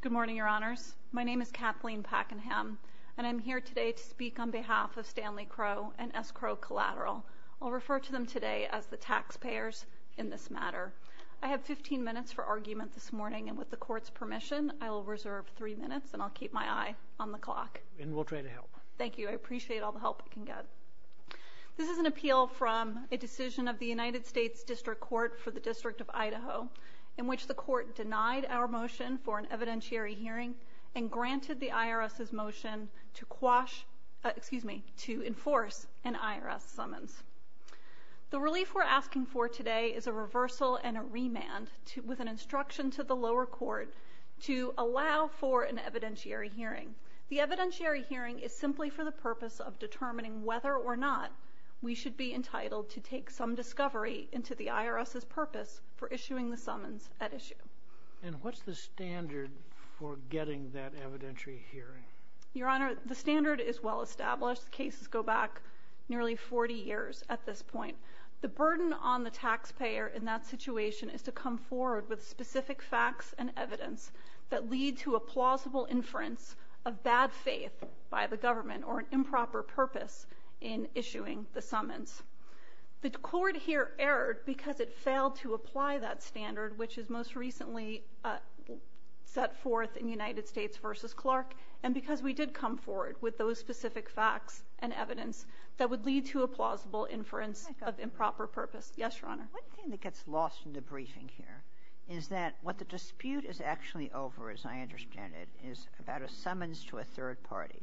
Good morning, Your Honors. My name is Kathleen Pakenham, and I am here today to speak on behalf of Stanley Crow and S. Crow Collateral. I'll refer to them today as the taxpayers in this matter. I have 15 minutes for argument this morning, and with the Court's permission, I will reserve three minutes and I'll keep my eye on the clock. And we'll try to help. Thank you. I appreciate all the help I can get. This is an appeal from a decision of the United States District Court for the District of which the Court denied our motion for an evidentiary hearing and granted the IRS's motion to enforce an IRS summons. The relief we're asking for today is a reversal and a remand with an instruction to the lower court to allow for an evidentiary hearing. The evidentiary hearing is simply for the purpose of determining whether or not we should be entitled to take some discovery into the IRS's purpose for issuing the summons at issue. And what's the standard for getting that evidentiary hearing? Your Honor, the standard is well established. Cases go back nearly 40 years at this point. The burden on the taxpayer in that situation is to come forward with specific facts and evidence that lead to a plausible inference of bad faith by the government or an improper purpose in issuing the summons. The court here erred because it failed to apply that standard which is most recently set forth in United States v. Clark and because we did come forward with those specific facts and evidence that would lead to a plausible inference of improper purpose. Yes, Your Honor. One thing that gets lost in the briefing here is that what the dispute is actually over, as I understand it, is about a summons to a third party.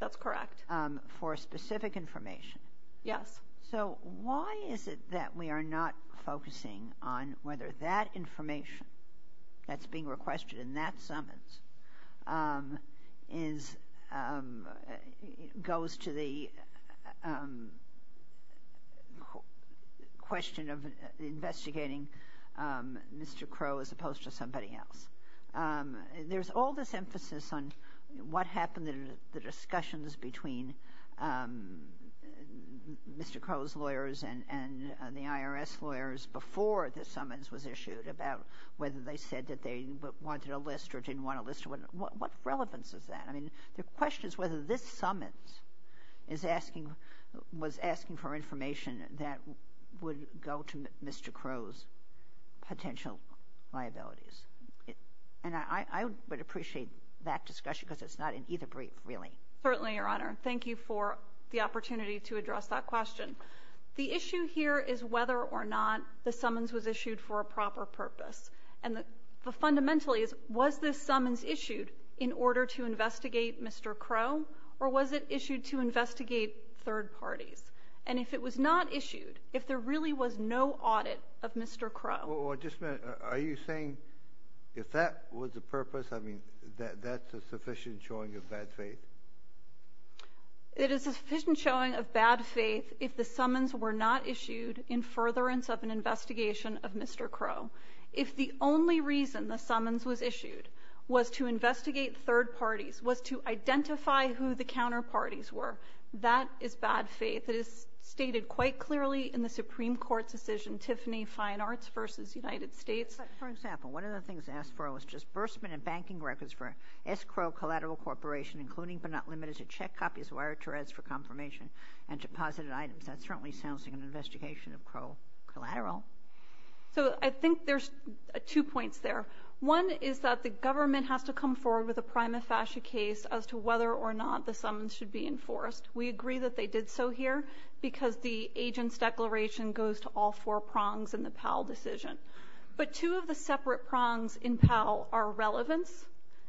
That's correct. For specific information? Yes. So why is it that we are not focusing on whether that information that's being requested in that summons goes to the question of investigating Mr. Crow as opposed to somebody else? There's all this emphasis on what happened in the discussions between Mr. Crow's lawyers and the IRS lawyers before the summons was issued about whether they said that they wanted a list or didn't want a list. What relevance is that? I mean, the question is whether this summons was asking for information that would go to Mr. Crow's potential liabilities. And I would appreciate that discussion because it's not in either brief, really. Certainly, Your Honor. Thank you for the opportunity to address that question. The issue here is whether or not the summons was issued for a proper purpose. And the fundamental is, was this summons issued in order to investigate Mr. Crow or was it issued to investigate third parties? And if it was not issued, if there really was no audit of Mr. Crow Are you saying if that was the purpose, I mean, that that's a sufficient showing of bad faith? It is a sufficient showing of bad faith if the summons were not issued in furtherance of an investigation of Mr. Crow. If the only reason the summons was issued was to investigate third parties, was to identify who the counterparties were, that is bad faith. It is stated quite clearly in the Supreme Court's decision, Tiffany Fine Arts v. United States. For example, one of the things asked for was disbursement of banking records for S. Crow Collateral Corporation, including but not limited to check copies of wire Tourette's for confirmation and deposited items. That certainly sounds like an investigation of Crow Collateral. So I think there's two points there. One is that the government has to come forward with a prima facie case as to whether or not the summons should be enforced. We agree that they did so here because the agent's declaration goes to all four prongs in the Powell decision. But two of the separate prongs in Powell are relevance,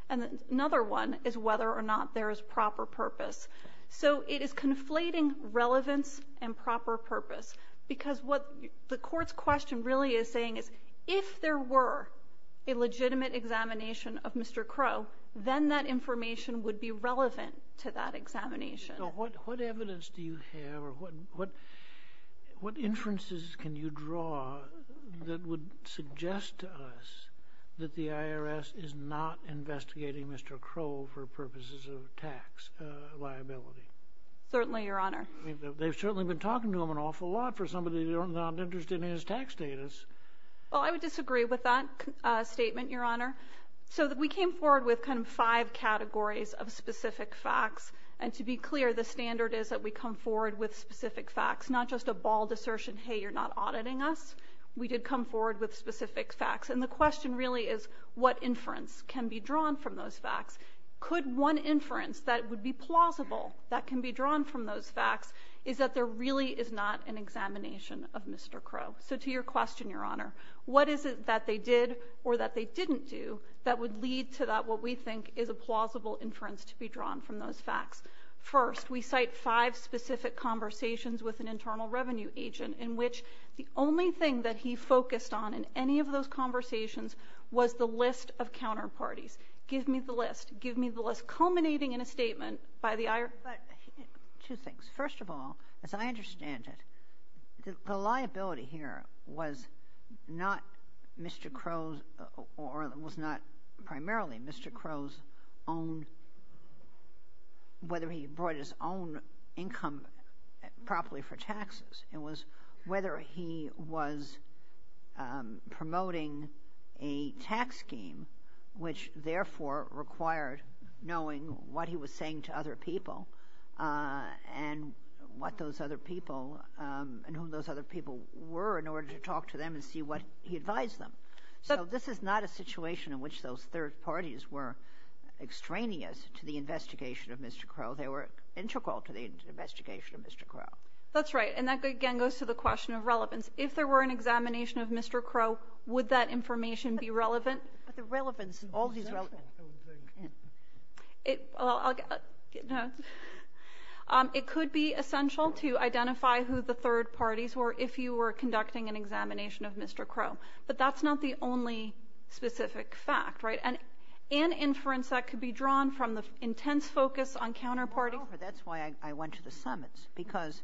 and another one is whether or not there is proper purpose. So it is conflating relevance and proper purpose, because what the Court's question really is saying is if there were a legitimate examination of Mr. Crow, then that information would be relevant to that examination. What evidence do you have or what inferences can you draw that would suggest to us that the IRS is not investigating Mr. Crow for purposes of tax liability? Certainly, Your Honor. They've certainly been talking to him an awful lot for somebody who's not interested in his tax status. Well, I would disagree with that statement, Your Honor. So we came forward with kind of categories of specific facts. And to be clear, the standard is that we come forward with specific facts, not just a bald assertion, hey, you're not auditing us. We did come forward with specific facts. And the question really is what inference can be drawn from those facts. Could one inference that would be plausible that can be drawn from those facts is that there really is not an examination of Mr. Crow. So to your question, Your Honor, what is it that they did or that they didn't do that would lead to that what we think is a plausible inference to be drawn from those facts? First, we cite five specific conversations with an internal revenue agent in which the only thing that he focused on in any of those conversations was the list of counterparties. Give me the list. Give me the list culminating in a statement by the IRS. But two things. First of all, as I understand it, the liability here was not Mr. Crow's or it was not primarily Mr. Crow's own, whether he brought his own income properly for taxes. It was whether he was promoting a tax scheme, which therefore required knowing what he was saying to other people and what those other people and who those other people were in order to talk to them and see what he advised them. So this is not a situation in which those third parties were extraneous to the investigation of Mr. Crow. They were integral to the investigation of Mr. Crow. That's right. And that, again, goes to the question of relevance. If there were an examination of Mr. Crow, would that information be relevant? But the relevance, all these relevant. It could be essential to identify who the third parties were if you were conducting an examination of Mr. Crow. But that's not the only specific fact. And an inference that could be drawn from the intense focus on counterparties. That's why I went to the summits, because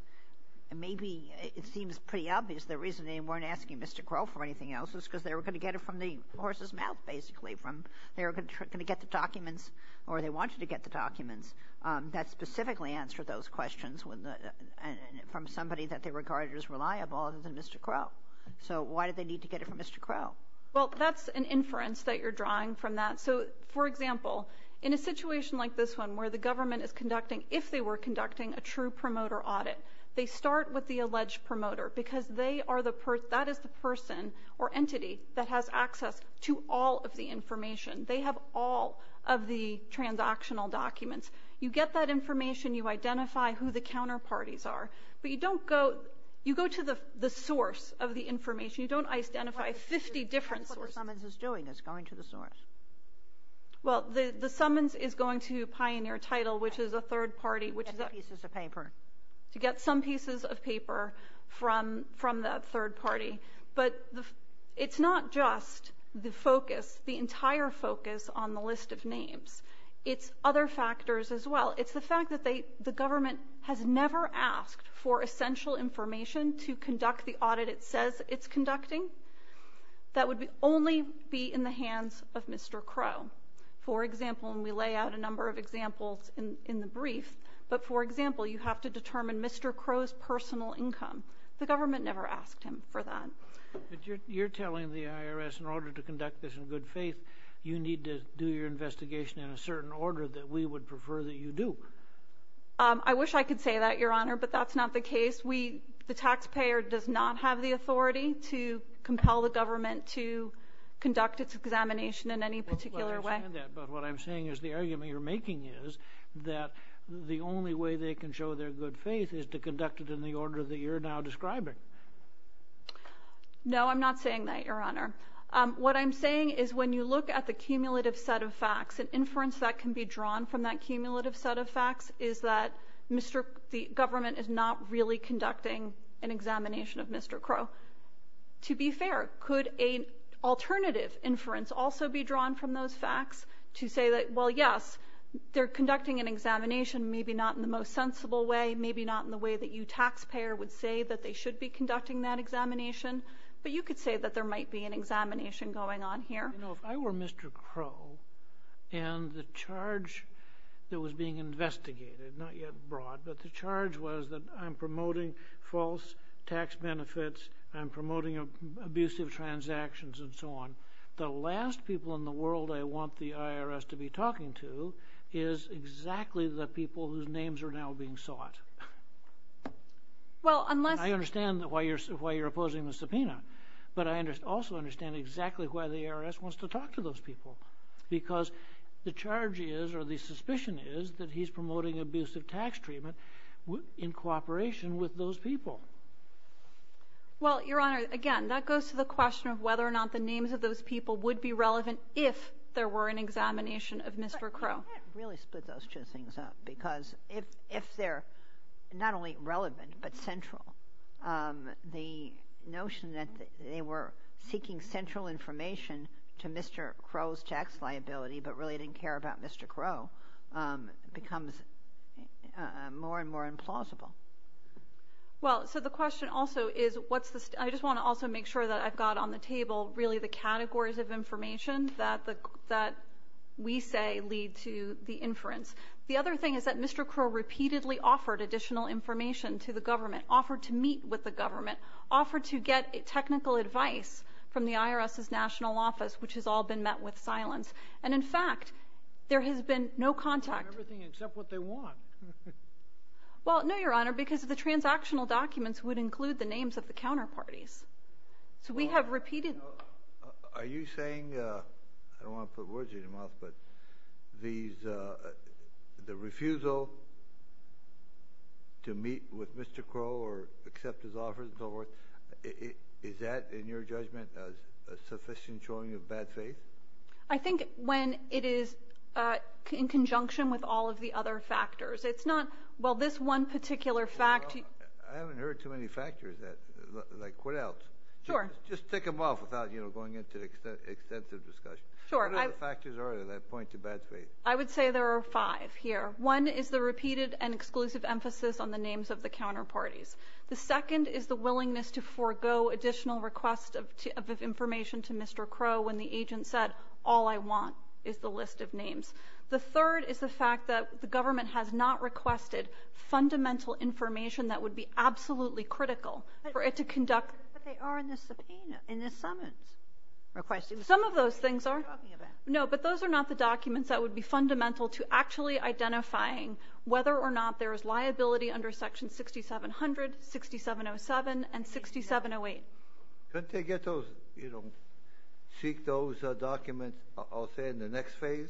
maybe it seems pretty obvious the reason they weren't asking Mr. Crow for anything else was because they were going to get it from the horse's mouth, basically. They were going to get the documents or they wanted to get the documents that specifically answered those questions and from somebody that they regarded as reliable other than Mr. Crow. So why did they need to get it from Mr. Crow? Well, that's an inference that you're drawing from that. So for example, in a situation like this one where the government is conducting, if they were conducting, a true promoter audit, they start with the alleged promoter because that is the person or entity that has access to all of the information. They have all of the transactional documents. You get that information. You identify who the counterparties are. But you don't go, you go to the source of the information. You don't identify 50 different sources. That's what the summons is doing. It's going to the source. Well, the summons is going to Pioneer Title, which is a third party, to get some pieces of paper from the third party. But it's not just the focus, the entire focus on the list of names. It's other factors as well. It's the fact that the government has never asked for essential information to conduct the audit it says it's conducting. That would only be in the hands of Mr. Crow. For example, and we lay out a number of examples in the brief, but for example, you have to determine Mr. Crow's personal income. The government never asked him for that. You're telling the IRS in order to conduct this in good faith, you need to do your investigation in a certain order that we would prefer that you do. I wish I could say that, Your Honor, but that's not the case. We, the taxpayer does not have the authority to compel the government to conduct its examination in any particular way. But what I'm saying is the argument you're making is that the only way they can show their good faith is to conduct it in the order that you're now saying. No, I'm not saying that, Your Honor. What I'm saying is when you look at the cumulative set of facts and inference that can be drawn from that cumulative set of facts is that Mr. The government is not really conducting an examination of Mr. Crow. To be fair, could a alternative inference also be drawn from those facts to say that, well, yes, they're conducting an examination, maybe not in the most sensible way, maybe not in the way that you taxpayer would say that they should be conducting that examination, but you could say that there might be an examination going on here. You know, if I were Mr. Crow, and the charge that was being investigated, not yet brought, but the charge was that I'm promoting false tax benefits, I'm promoting abusive transactions, and so on, the last people in the world I want the IRS to be I understand why you're opposing the subpoena, but I also understand exactly why the IRS wants to talk to those people, because the charge is, or the suspicion is, that he's promoting abusive tax treatment in cooperation with those people. Well, Your Honor, again, that goes to the question of whether or not the names of those people would be relevant if there were an examination of Mr. Crow. You can't really split those two things up, because if they're not only relevant, but central, the notion that they were seeking central information to Mr. Crow's tax liability, but really didn't care about Mr. Crow, becomes more and more implausible. Well, so the question also is, what's the, I just want to also make sure that I've got on the table really the categories of information that we say lead to the inference. The other thing is that Mr. Crow repeatedly offered additional information to the government, offered to meet with the government, offered to get technical advice from the IRS's national office, which has all been met with silence, and in fact, there has been no contact. Everything except what they want. Well, no, Your Honor, because the transactional documents would include the names of the counterparties, so we have repeated. Are you saying, I don't want to put words in your mouth, but these, the refusal to meet with Mr. Crow or accept his offers and so forth, is that, in your judgment, a sufficient showing of bad faith? I think when it is in conjunction with all of the other factors. It's not, well, this one particular fact... I haven't heard too many factors that, like what else? Sure. Just tick them off without, you know, going into extensive discussion. Sure. What other factors are there that point to bad faith? I would say there are five here. One is the repeated and exclusive emphasis on the names of the counterparties. The second is the willingness to forego additional request of information to Mr. Crow when the agent said, all I want is the list of names. The third is the fact that the government has not requested fundamental information that would be absolutely critical for it to conduct... But they are in the subpoena, in the summons. Some of those things are. No, but those are not the documents that would be fundamental to actually identifying whether or not there is liability under section 6700, 6707, and 6708. Couldn't they get those, you know, seek those documents, I'll say, in the next phase?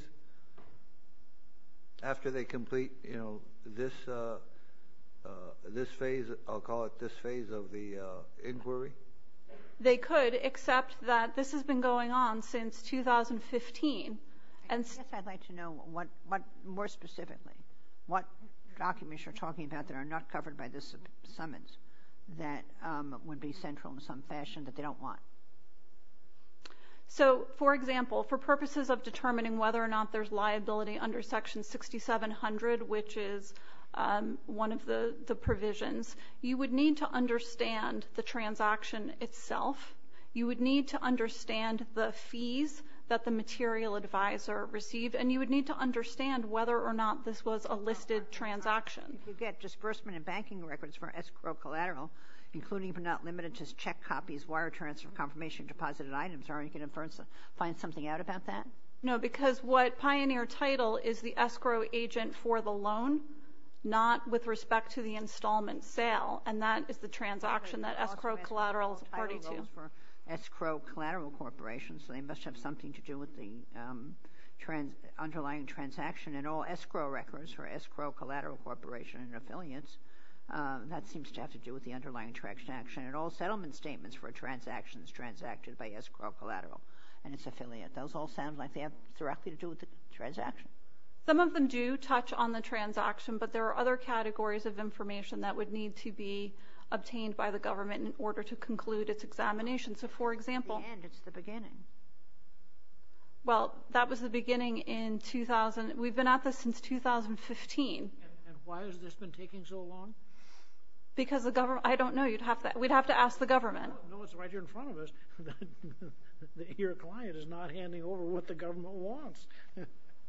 After they complete, you know, this phase, I'll call it this phase of the inquiry? They could, except that this has been going on since 2015. I guess I'd like to know what, more specifically, what documents you're talking about that are not covered by this summons that would be central in some fashion that they don't want. So, for example, for purposes of determining whether or not there's liability under section 6700, which is one of the provisions, you would need to understand the transaction itself. You would need to understand the fees that the material advisor received, and you would need to understand whether or not this was a listed transaction. If you get disbursement and banking records for escrow collateral, including but not limited to check copies, wire transfer, confirmation, deposited items, are you going to find something out about that? No, because what Pioneer title is the escrow agent for the loan, not with respect to the installment sale, and that is the transaction that escrow collaterals party to. Escrow collateral corporation, so they must have something to do with the underlying transaction and all escrow records for escrow collateral corporation and affiliates. That seems to have to do with the underlying transaction and all settlement statements for transactions transacted by escrow collateral and its affiliate. Those all sound like they have directly to do with the transaction. Some of them do touch on the transaction, but there are other categories of information that would need to be obtained by the government in order to conclude its examination. So, for example, At the end, it's the beginning. Well, that was the beginning in 2000. We've been at this since 2015. And why has this been taking so long? Because the government, I don't know, you'd have to, we'd have to ask the government. No, it's right here in front of us. That your client is not handing over what the government wants.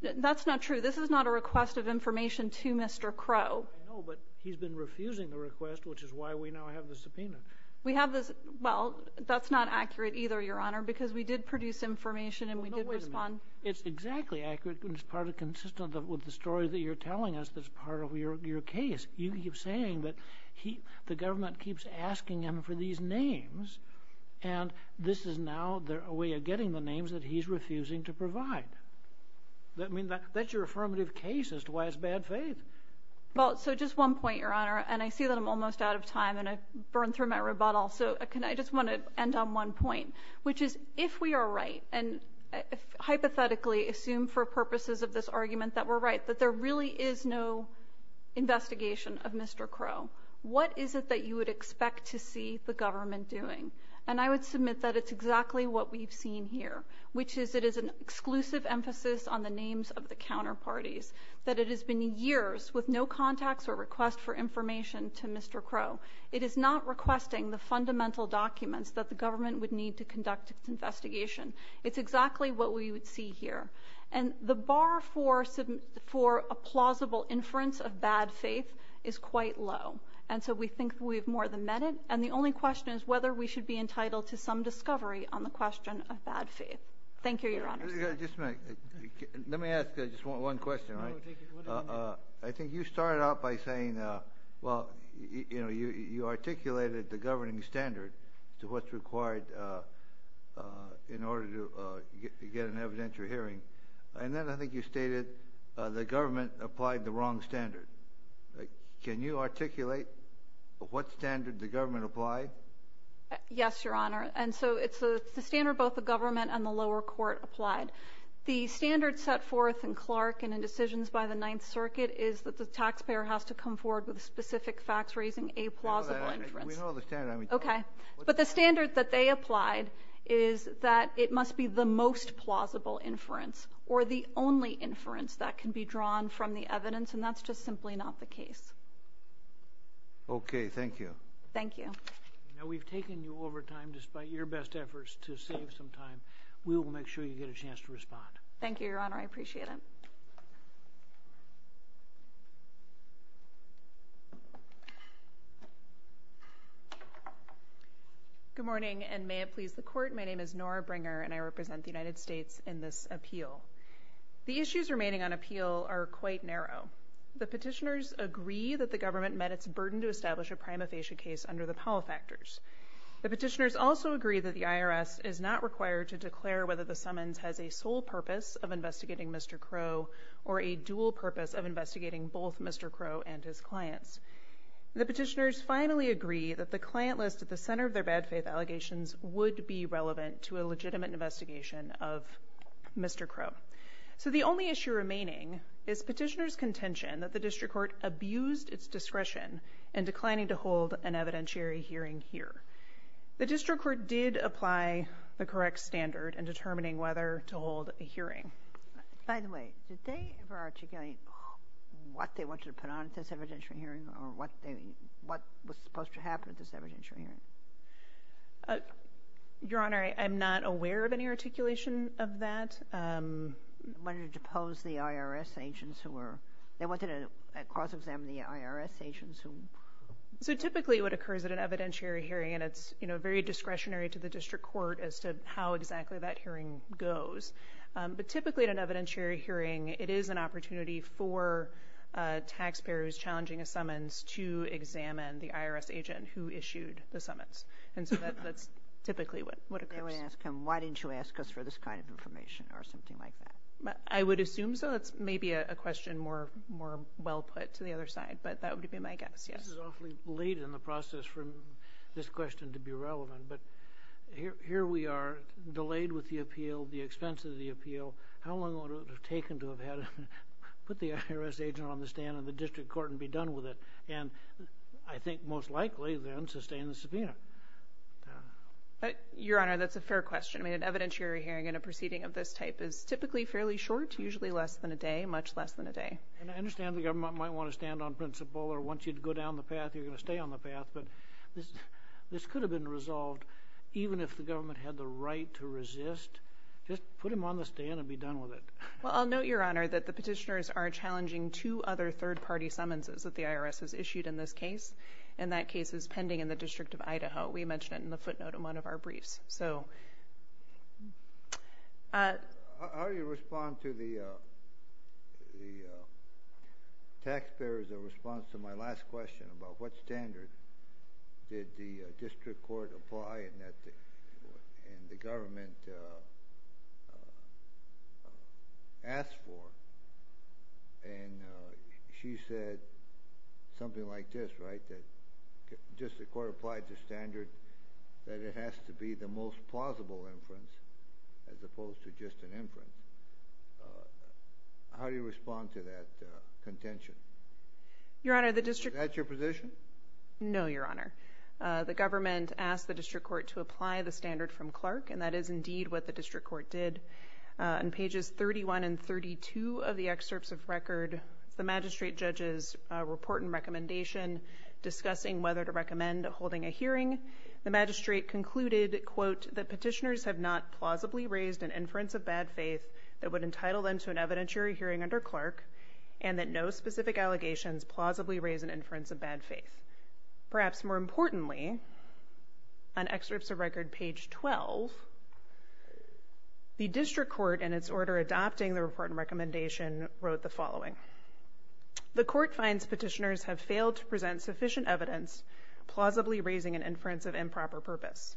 That's not true. This is not a request of information to Mr. Crow. I know, but he's been refusing the request, which is why we now have the subpoena. We have this. Well, that's not accurate either, Your Honor, because we did produce information and we did respond. It's exactly accurate. It's part of consistent with the story that you're telling us. That's part of your case. You keep saying that the government keeps asking him for these names. And this is now a way of getting the names that he's refusing to provide. I mean, that's your affirmative case as to why it's bad faith. Well, so just one point, Your Honor, and I see that I'm almost out of time and I've burned through my rebuttal. So can I just want to end on one point, which is if we are right and hypothetically assume for purposes of this argument that we're right, that there really is no investigation of Mr. Crow, what is it that you would expect to see the government doing? And I would submit that it's exactly what we've seen here, which is it is an exclusive emphasis on the names of the counterparties, that it has been years with no contacts or request for information to Mr. Crow. It is not requesting the fundamental documents that the government would need to conduct its investigation. It's exactly what we would see here. And the bar for a plausible inference of bad faith is quite low. And so we think we've more than met it. And the only question is whether we should be entitled to some discovery on the question of bad faith. Thank you, Your Honor. Just a minute. Let me ask just one question. I think you started out by saying, well, you articulated the governing standard to what's And then I think you stated the government applied the wrong standard. Can you articulate what standard the government applied? Yes, Your Honor. And so it's the standard both the government and the lower court applied. The standard set forth in Clark and in decisions by the Ninth Circuit is that the taxpayer has to come forward with specific facts raising a plausible inference. We know the standard. OK. But the standard that they applied is that it must be the most plausible inference or the only inference that can be drawn from the evidence. And that's just simply not the case. OK. Thank you. Thank you. Now, we've taken you over time despite your best efforts to save some time. We will make sure you get a chance to respond. Thank you, Your Honor. I appreciate it. Good morning, and may it please the court. My name is Nora Bringer, and I represent the United States in this appeal. The issues remaining on appeal are quite narrow. The petitioners agree that the government met its burden to establish a prima facie case under the Powell factors. The petitioners also agree that the IRS is not required to declare whether the summons has a sole purpose of investigating Mr. Crow or a dual purpose of investigating both Mr. Crow and his clients. The petitioners finally agree that the client list at the center of their bad faith allegations would be relevant to a legitimate investigation of Mr. Crow. So the only issue remaining is petitioners' contention that the district court abused its discretion in declining to hold an evidentiary hearing here. The district court did apply the correct standard in determining whether to hold a hearing. By the way, did they ever articulate what they wanted to put on this evidentiary hearing, or what was supposed to happen at this evidentiary hearing? Your Honor, I'm not aware of any articulation of that. When you depose the IRS agents who were... They wanted to cross-examine the IRS agents who... So typically what occurs at an evidentiary hearing, and it's very discretionary to the district court as to how exactly that hearing goes. But typically at an evidentiary hearing, it is an opportunity for a taxpayer who's to examine the IRS agent who issued the summons. And so that's typically what occurs. They would ask him, why didn't you ask us for this kind of information or something like that? I would assume so. It's maybe a question more well put to the other side, but that would be my guess. This is awfully late in the process for this question to be relevant, but here we are, delayed with the appeal, the expense of the appeal. How long would it have taken to have had to put the IRS agent on the stand in the district court and be done with it? And I think most likely, then, sustain the subpoena. Your Honor, that's a fair question. I mean, an evidentiary hearing in a proceeding of this type is typically fairly short, usually less than a day, much less than a day. And I understand the government might want to stand on principle, or once you'd go down the path, you're going to stay on the path. But this could have been resolved even if the government had the right to resist. Just put him on the stand and be done with it. Well, I'll note, Your Honor, that the petitioners are challenging two other third-party summonses that the IRS has issued in this case. And that case is pending in the District of Idaho. We mentioned it in the footnote in one of our briefs. So— How do you respond to the taxpayer's response to my last question about what standard did the district court apply and that the government asked for? And she said something like this, right? That just the court applied the standard that it has to be the most plausible inference, as opposed to just an inference. How do you respond to that contention? Your Honor, the district— Is that your position? No, Your Honor. The government asked the district court to apply the standard from Clark, and that is indeed what the district court did. On pages 31 and 32 of the excerpts of record, the magistrate judges report and recommendation discussing whether to recommend holding a hearing. The magistrate concluded, quote, that petitioners have not plausibly raised an inference of bad faith that would entitle them to an evidentiary hearing under Clark, and that no specific allegations plausibly raise an inference of bad faith. Perhaps more importantly, on excerpts of record page 12, the district court, in its order adopting the report and recommendation, wrote the following. The court finds petitioners have failed to present sufficient evidence plausibly raising an inference of improper purpose.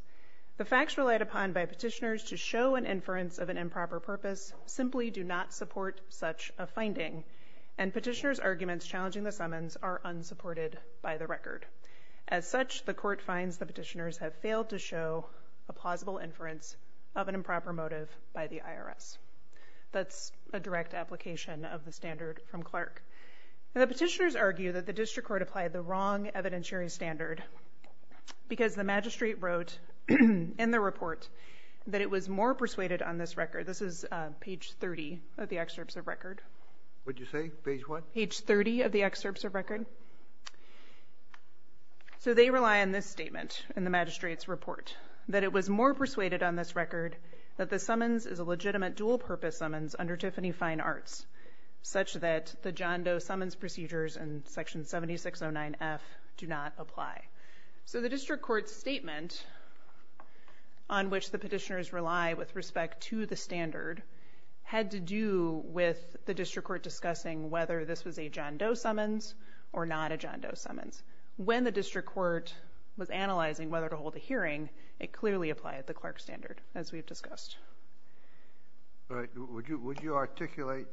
The facts relied upon by petitioners to show an inference of an improper purpose simply do not support such a finding, and petitioners' arguments challenging the summons are unsupported by the record. As such, the court finds the petitioners have failed to show a plausible inference of an improper motive by the IRS. That's a direct application of the standard from Clark. The petitioners argue that the district court applied the wrong evidentiary standard because the magistrate wrote in the report that it was more persuaded on this record— this is page 30 of the excerpts of record. What'd you say? Page what? Page 30 of the excerpts of record. So they rely on this statement in the magistrate's report, that it was more persuaded on this record that the summons is a legitimate dual-purpose summons under Tiffany Fine Arts, such that the John Doe summons procedures in section 7609F do not apply. So the district court's statement on which the petitioners rely with respect to the standard had to do with the district court discussing whether this was a John Doe summons or not a John Doe summons. When the district court was analyzing whether to hold a hearing, it clearly applied the Clark standard, as we've discussed. All right. Would you articulate,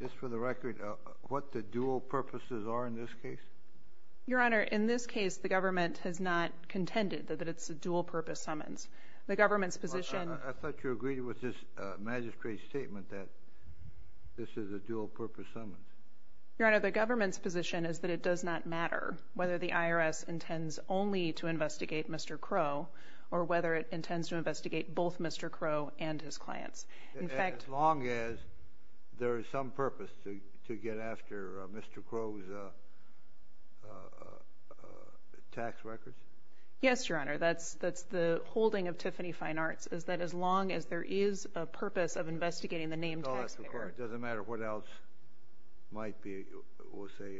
just for the record, what the dual purposes are in this case? Your Honor, in this case, the government has not contended that it's a dual-purpose summons. The government's position— I thought you agreed with this magistrate's statement that this is a dual-purpose summons. Your Honor, the government's position is that it does not matter whether the IRS intends only to investigate Mr. Crow or whether it intends to investigate both Mr. Crow and his clients. As long as there is some purpose to get after Mr. Crow's tax records? Yes, Your Honor. That's the holding of Tiffany Fine Arts, is that as long as there is a purpose of investigating the named taxpayer— It doesn't matter what else might be, we'll say,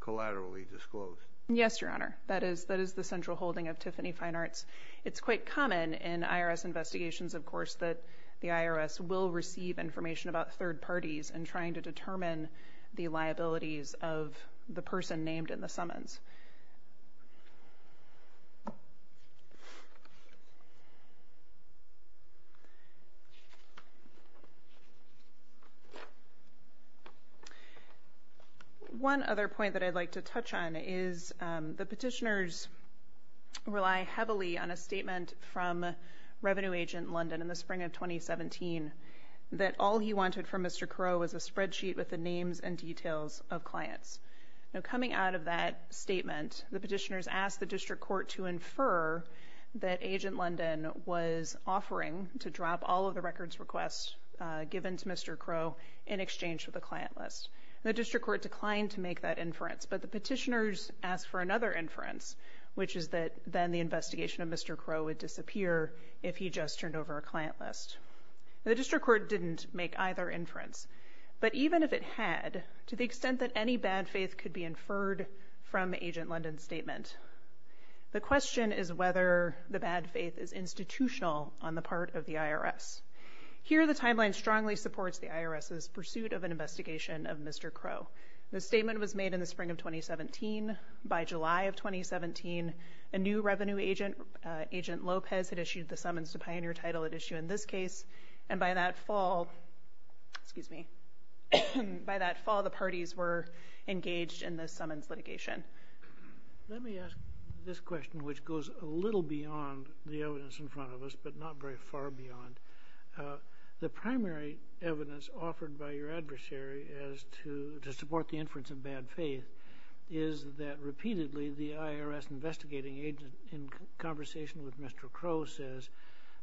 collaterally disclosed. Yes, Your Honor. That is the central holding of Tiffany Fine Arts. It's quite common in IRS investigations, of course, that the IRS will receive information about third parties and trying to determine the liabilities of the person named in the summons. Thank you. One other point that I'd like to touch on is the petitioners rely heavily on a statement from Revenue Agent London in the spring of 2017 that all he wanted from Mr. Crow was a spreadsheet with the names and details of clients. Now, coming out of that statement, the petitioners asked the district court to infer that Agent London was offering to drop all of the records requests given to Mr. Crow in exchange for the client list. The district court declined to make that inference, but the petitioners asked for another inference, which is that then the investigation of Mr. Crow would disappear if he just turned over a client list. The district court didn't make either inference, but even if it had, to the extent that any bad faith could be inferred from Agent London's statement. The question is whether the bad faith is institutional on the part of the IRS. Here, the timeline strongly supports the IRS's pursuit of an investigation of Mr. Crow. The statement was made in the spring of 2017. By July of 2017, a new revenue agent, Agent Lopez, had issued the summons to pioneer title at issue in this case. And by that fall, excuse me, by that fall, the parties were engaged in the summons litigation. Let me ask this question, which goes a little beyond the evidence in front of us, but not very far beyond. The primary evidence offered by your adversary as to support the inference of bad faith is that repeatedly the IRS investigating agent in conversation with Mr. Crow says,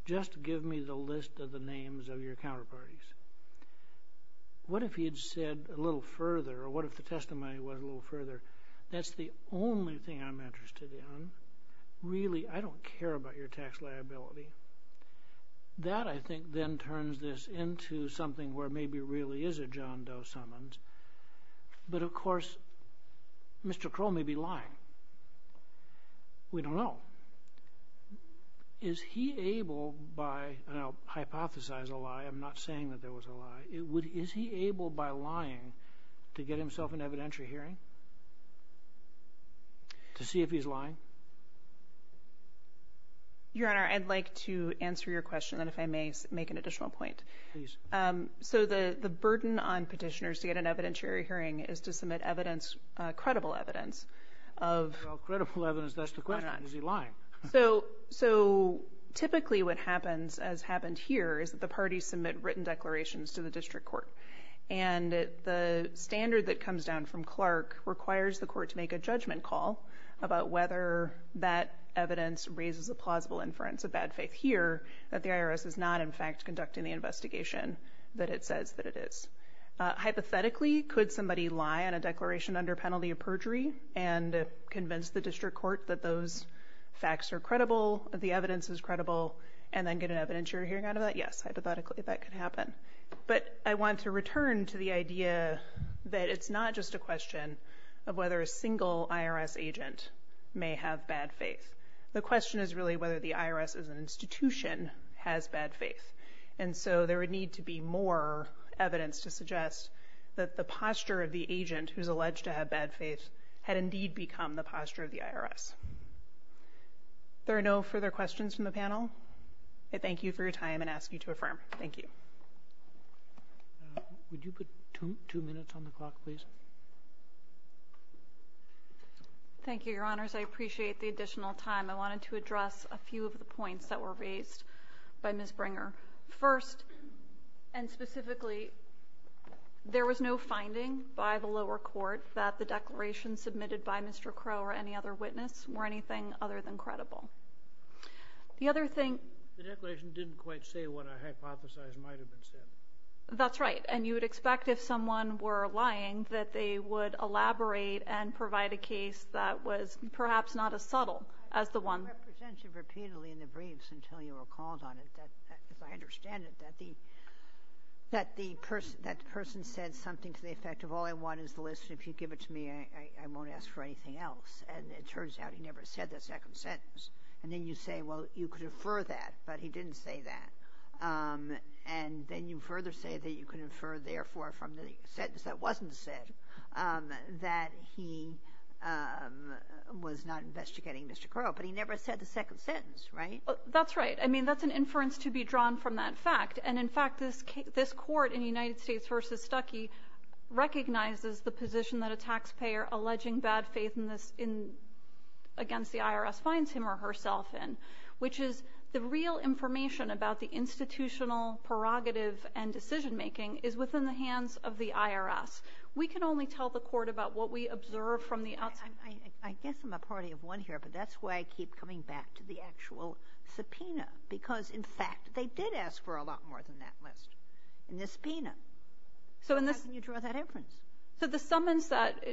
just give me the list of the names of your counterparties. What if he had said a little further, or what if the testimony was a little further? That's the only thing I'm interested in. Really, I don't care about your tax liability. That, I think, then turns this into something where maybe it really is a John Doe summons. But of course, Mr. Crow may be lying. We don't know. Now, is he able by, and I'll hypothesize a lie, I'm not saying that there was a lie, is he able by lying to get himself an evidentiary hearing? To see if he's lying? Your Honor, I'd like to answer your question, and if I may make an additional point. Please. So the burden on petitioners to get an evidentiary hearing is to submit evidence, credible evidence of... Well, credible evidence, that's the question. Is he lying? So typically what happens, as happened here, is that the parties submit written declarations to the district court. And the standard that comes down from Clark requires the court to make a judgment call about whether that evidence raises a plausible inference, a bad faith here, that the IRS is not, in fact, conducting the investigation that it says that it is. Hypothetically, could somebody lie on a declaration under penalty of perjury and convince the district court that those facts are credible, the evidence is credible, and then get an evidentiary hearing out of that? Yes, hypothetically, that could happen. But I want to return to the idea that it's not just a question of whether a single IRS agent may have bad faith. The question is really whether the IRS as an institution has bad faith. And so there would need to be more evidence to suggest that the posture of the agent who's alleged to have bad faith had indeed become the posture of the IRS. There are no further questions from the panel. I thank you for your time and ask you to affirm. Thank you. Would you put two minutes on the clock, please? Thank you, Your Honors. I appreciate the additional time. I wanted to address a few of the points that were raised by Ms. Bringer. First, and specifically, there was no finding by the lower court that the declaration submitted by Mr. Crow or any other witness were anything other than credible. The other thing... The declaration didn't quite say what I hypothesized might have been said. That's right. And you would expect, if someone were lying, that they would elaborate and provide a case that was perhaps not as subtle as the one... I've heard your representation repeatedly in the briefs until you were called on it. As I understand it, that the person said something to the effect of, all I want is the list. If you give it to me, I won't ask for anything else. And it turns out he never said the second sentence. And then you say, well, you could infer that, but he didn't say that. And then you further say that you could infer, therefore, from the sentence that wasn't said, that he was not investigating Mr. Crow, but he never said the second sentence, right? That's right. I mean, that's an inference to be drawn from that fact. And in fact, this court in United States v. Stuckey recognizes the position that a taxpayer alleging bad faith against the IRS finds him or herself in, which is the real information about the institutional prerogative and decision-making is within the hands of the IRS. We can only tell the court about what we observe from the outside. I guess I'm a party of one here, but that's why I keep coming back to the actual subpoena. Because in fact, they did ask for a lot more than that list in the subpoena. So in this- How can you draw that inference? So the summons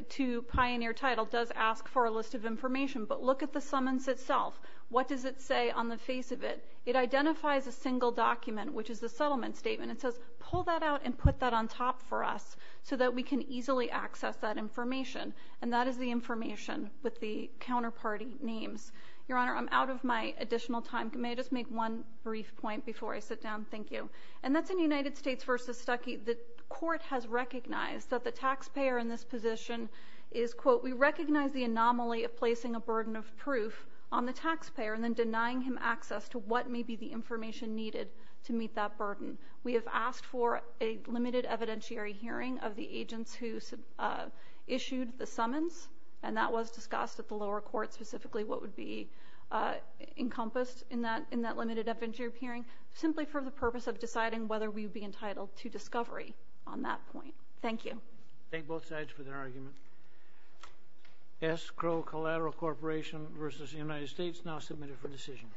to pioneer title does ask for a list of information, but look at the summons itself. What does it say on the face of it? It identifies a single document, which is the settlement statement. It says, pull that out and put that on top for us so that we can easily access that information. And that is the information with the counterparty names. Your Honor, I'm out of my additional time. May I just make one brief point before I sit down? Thank you. And that's in United States versus Stuckey. The court has recognized that the taxpayer in this position is, quote, we recognize the anomaly of placing a burden of proof on the taxpayer and then denying him access to what may be the information needed to meet that burden. We have asked for a limited evidentiary hearing of the agents who issued the summons. And that was discussed at the lower court, specifically what would be encompassed in that limited evidentiary hearing simply for the purpose of deciding whether we would be entitled to discovery on that point. Thank you. Thank both sides for their argument. S. Crowe Collateral Corporation versus the United States now submitted for decision.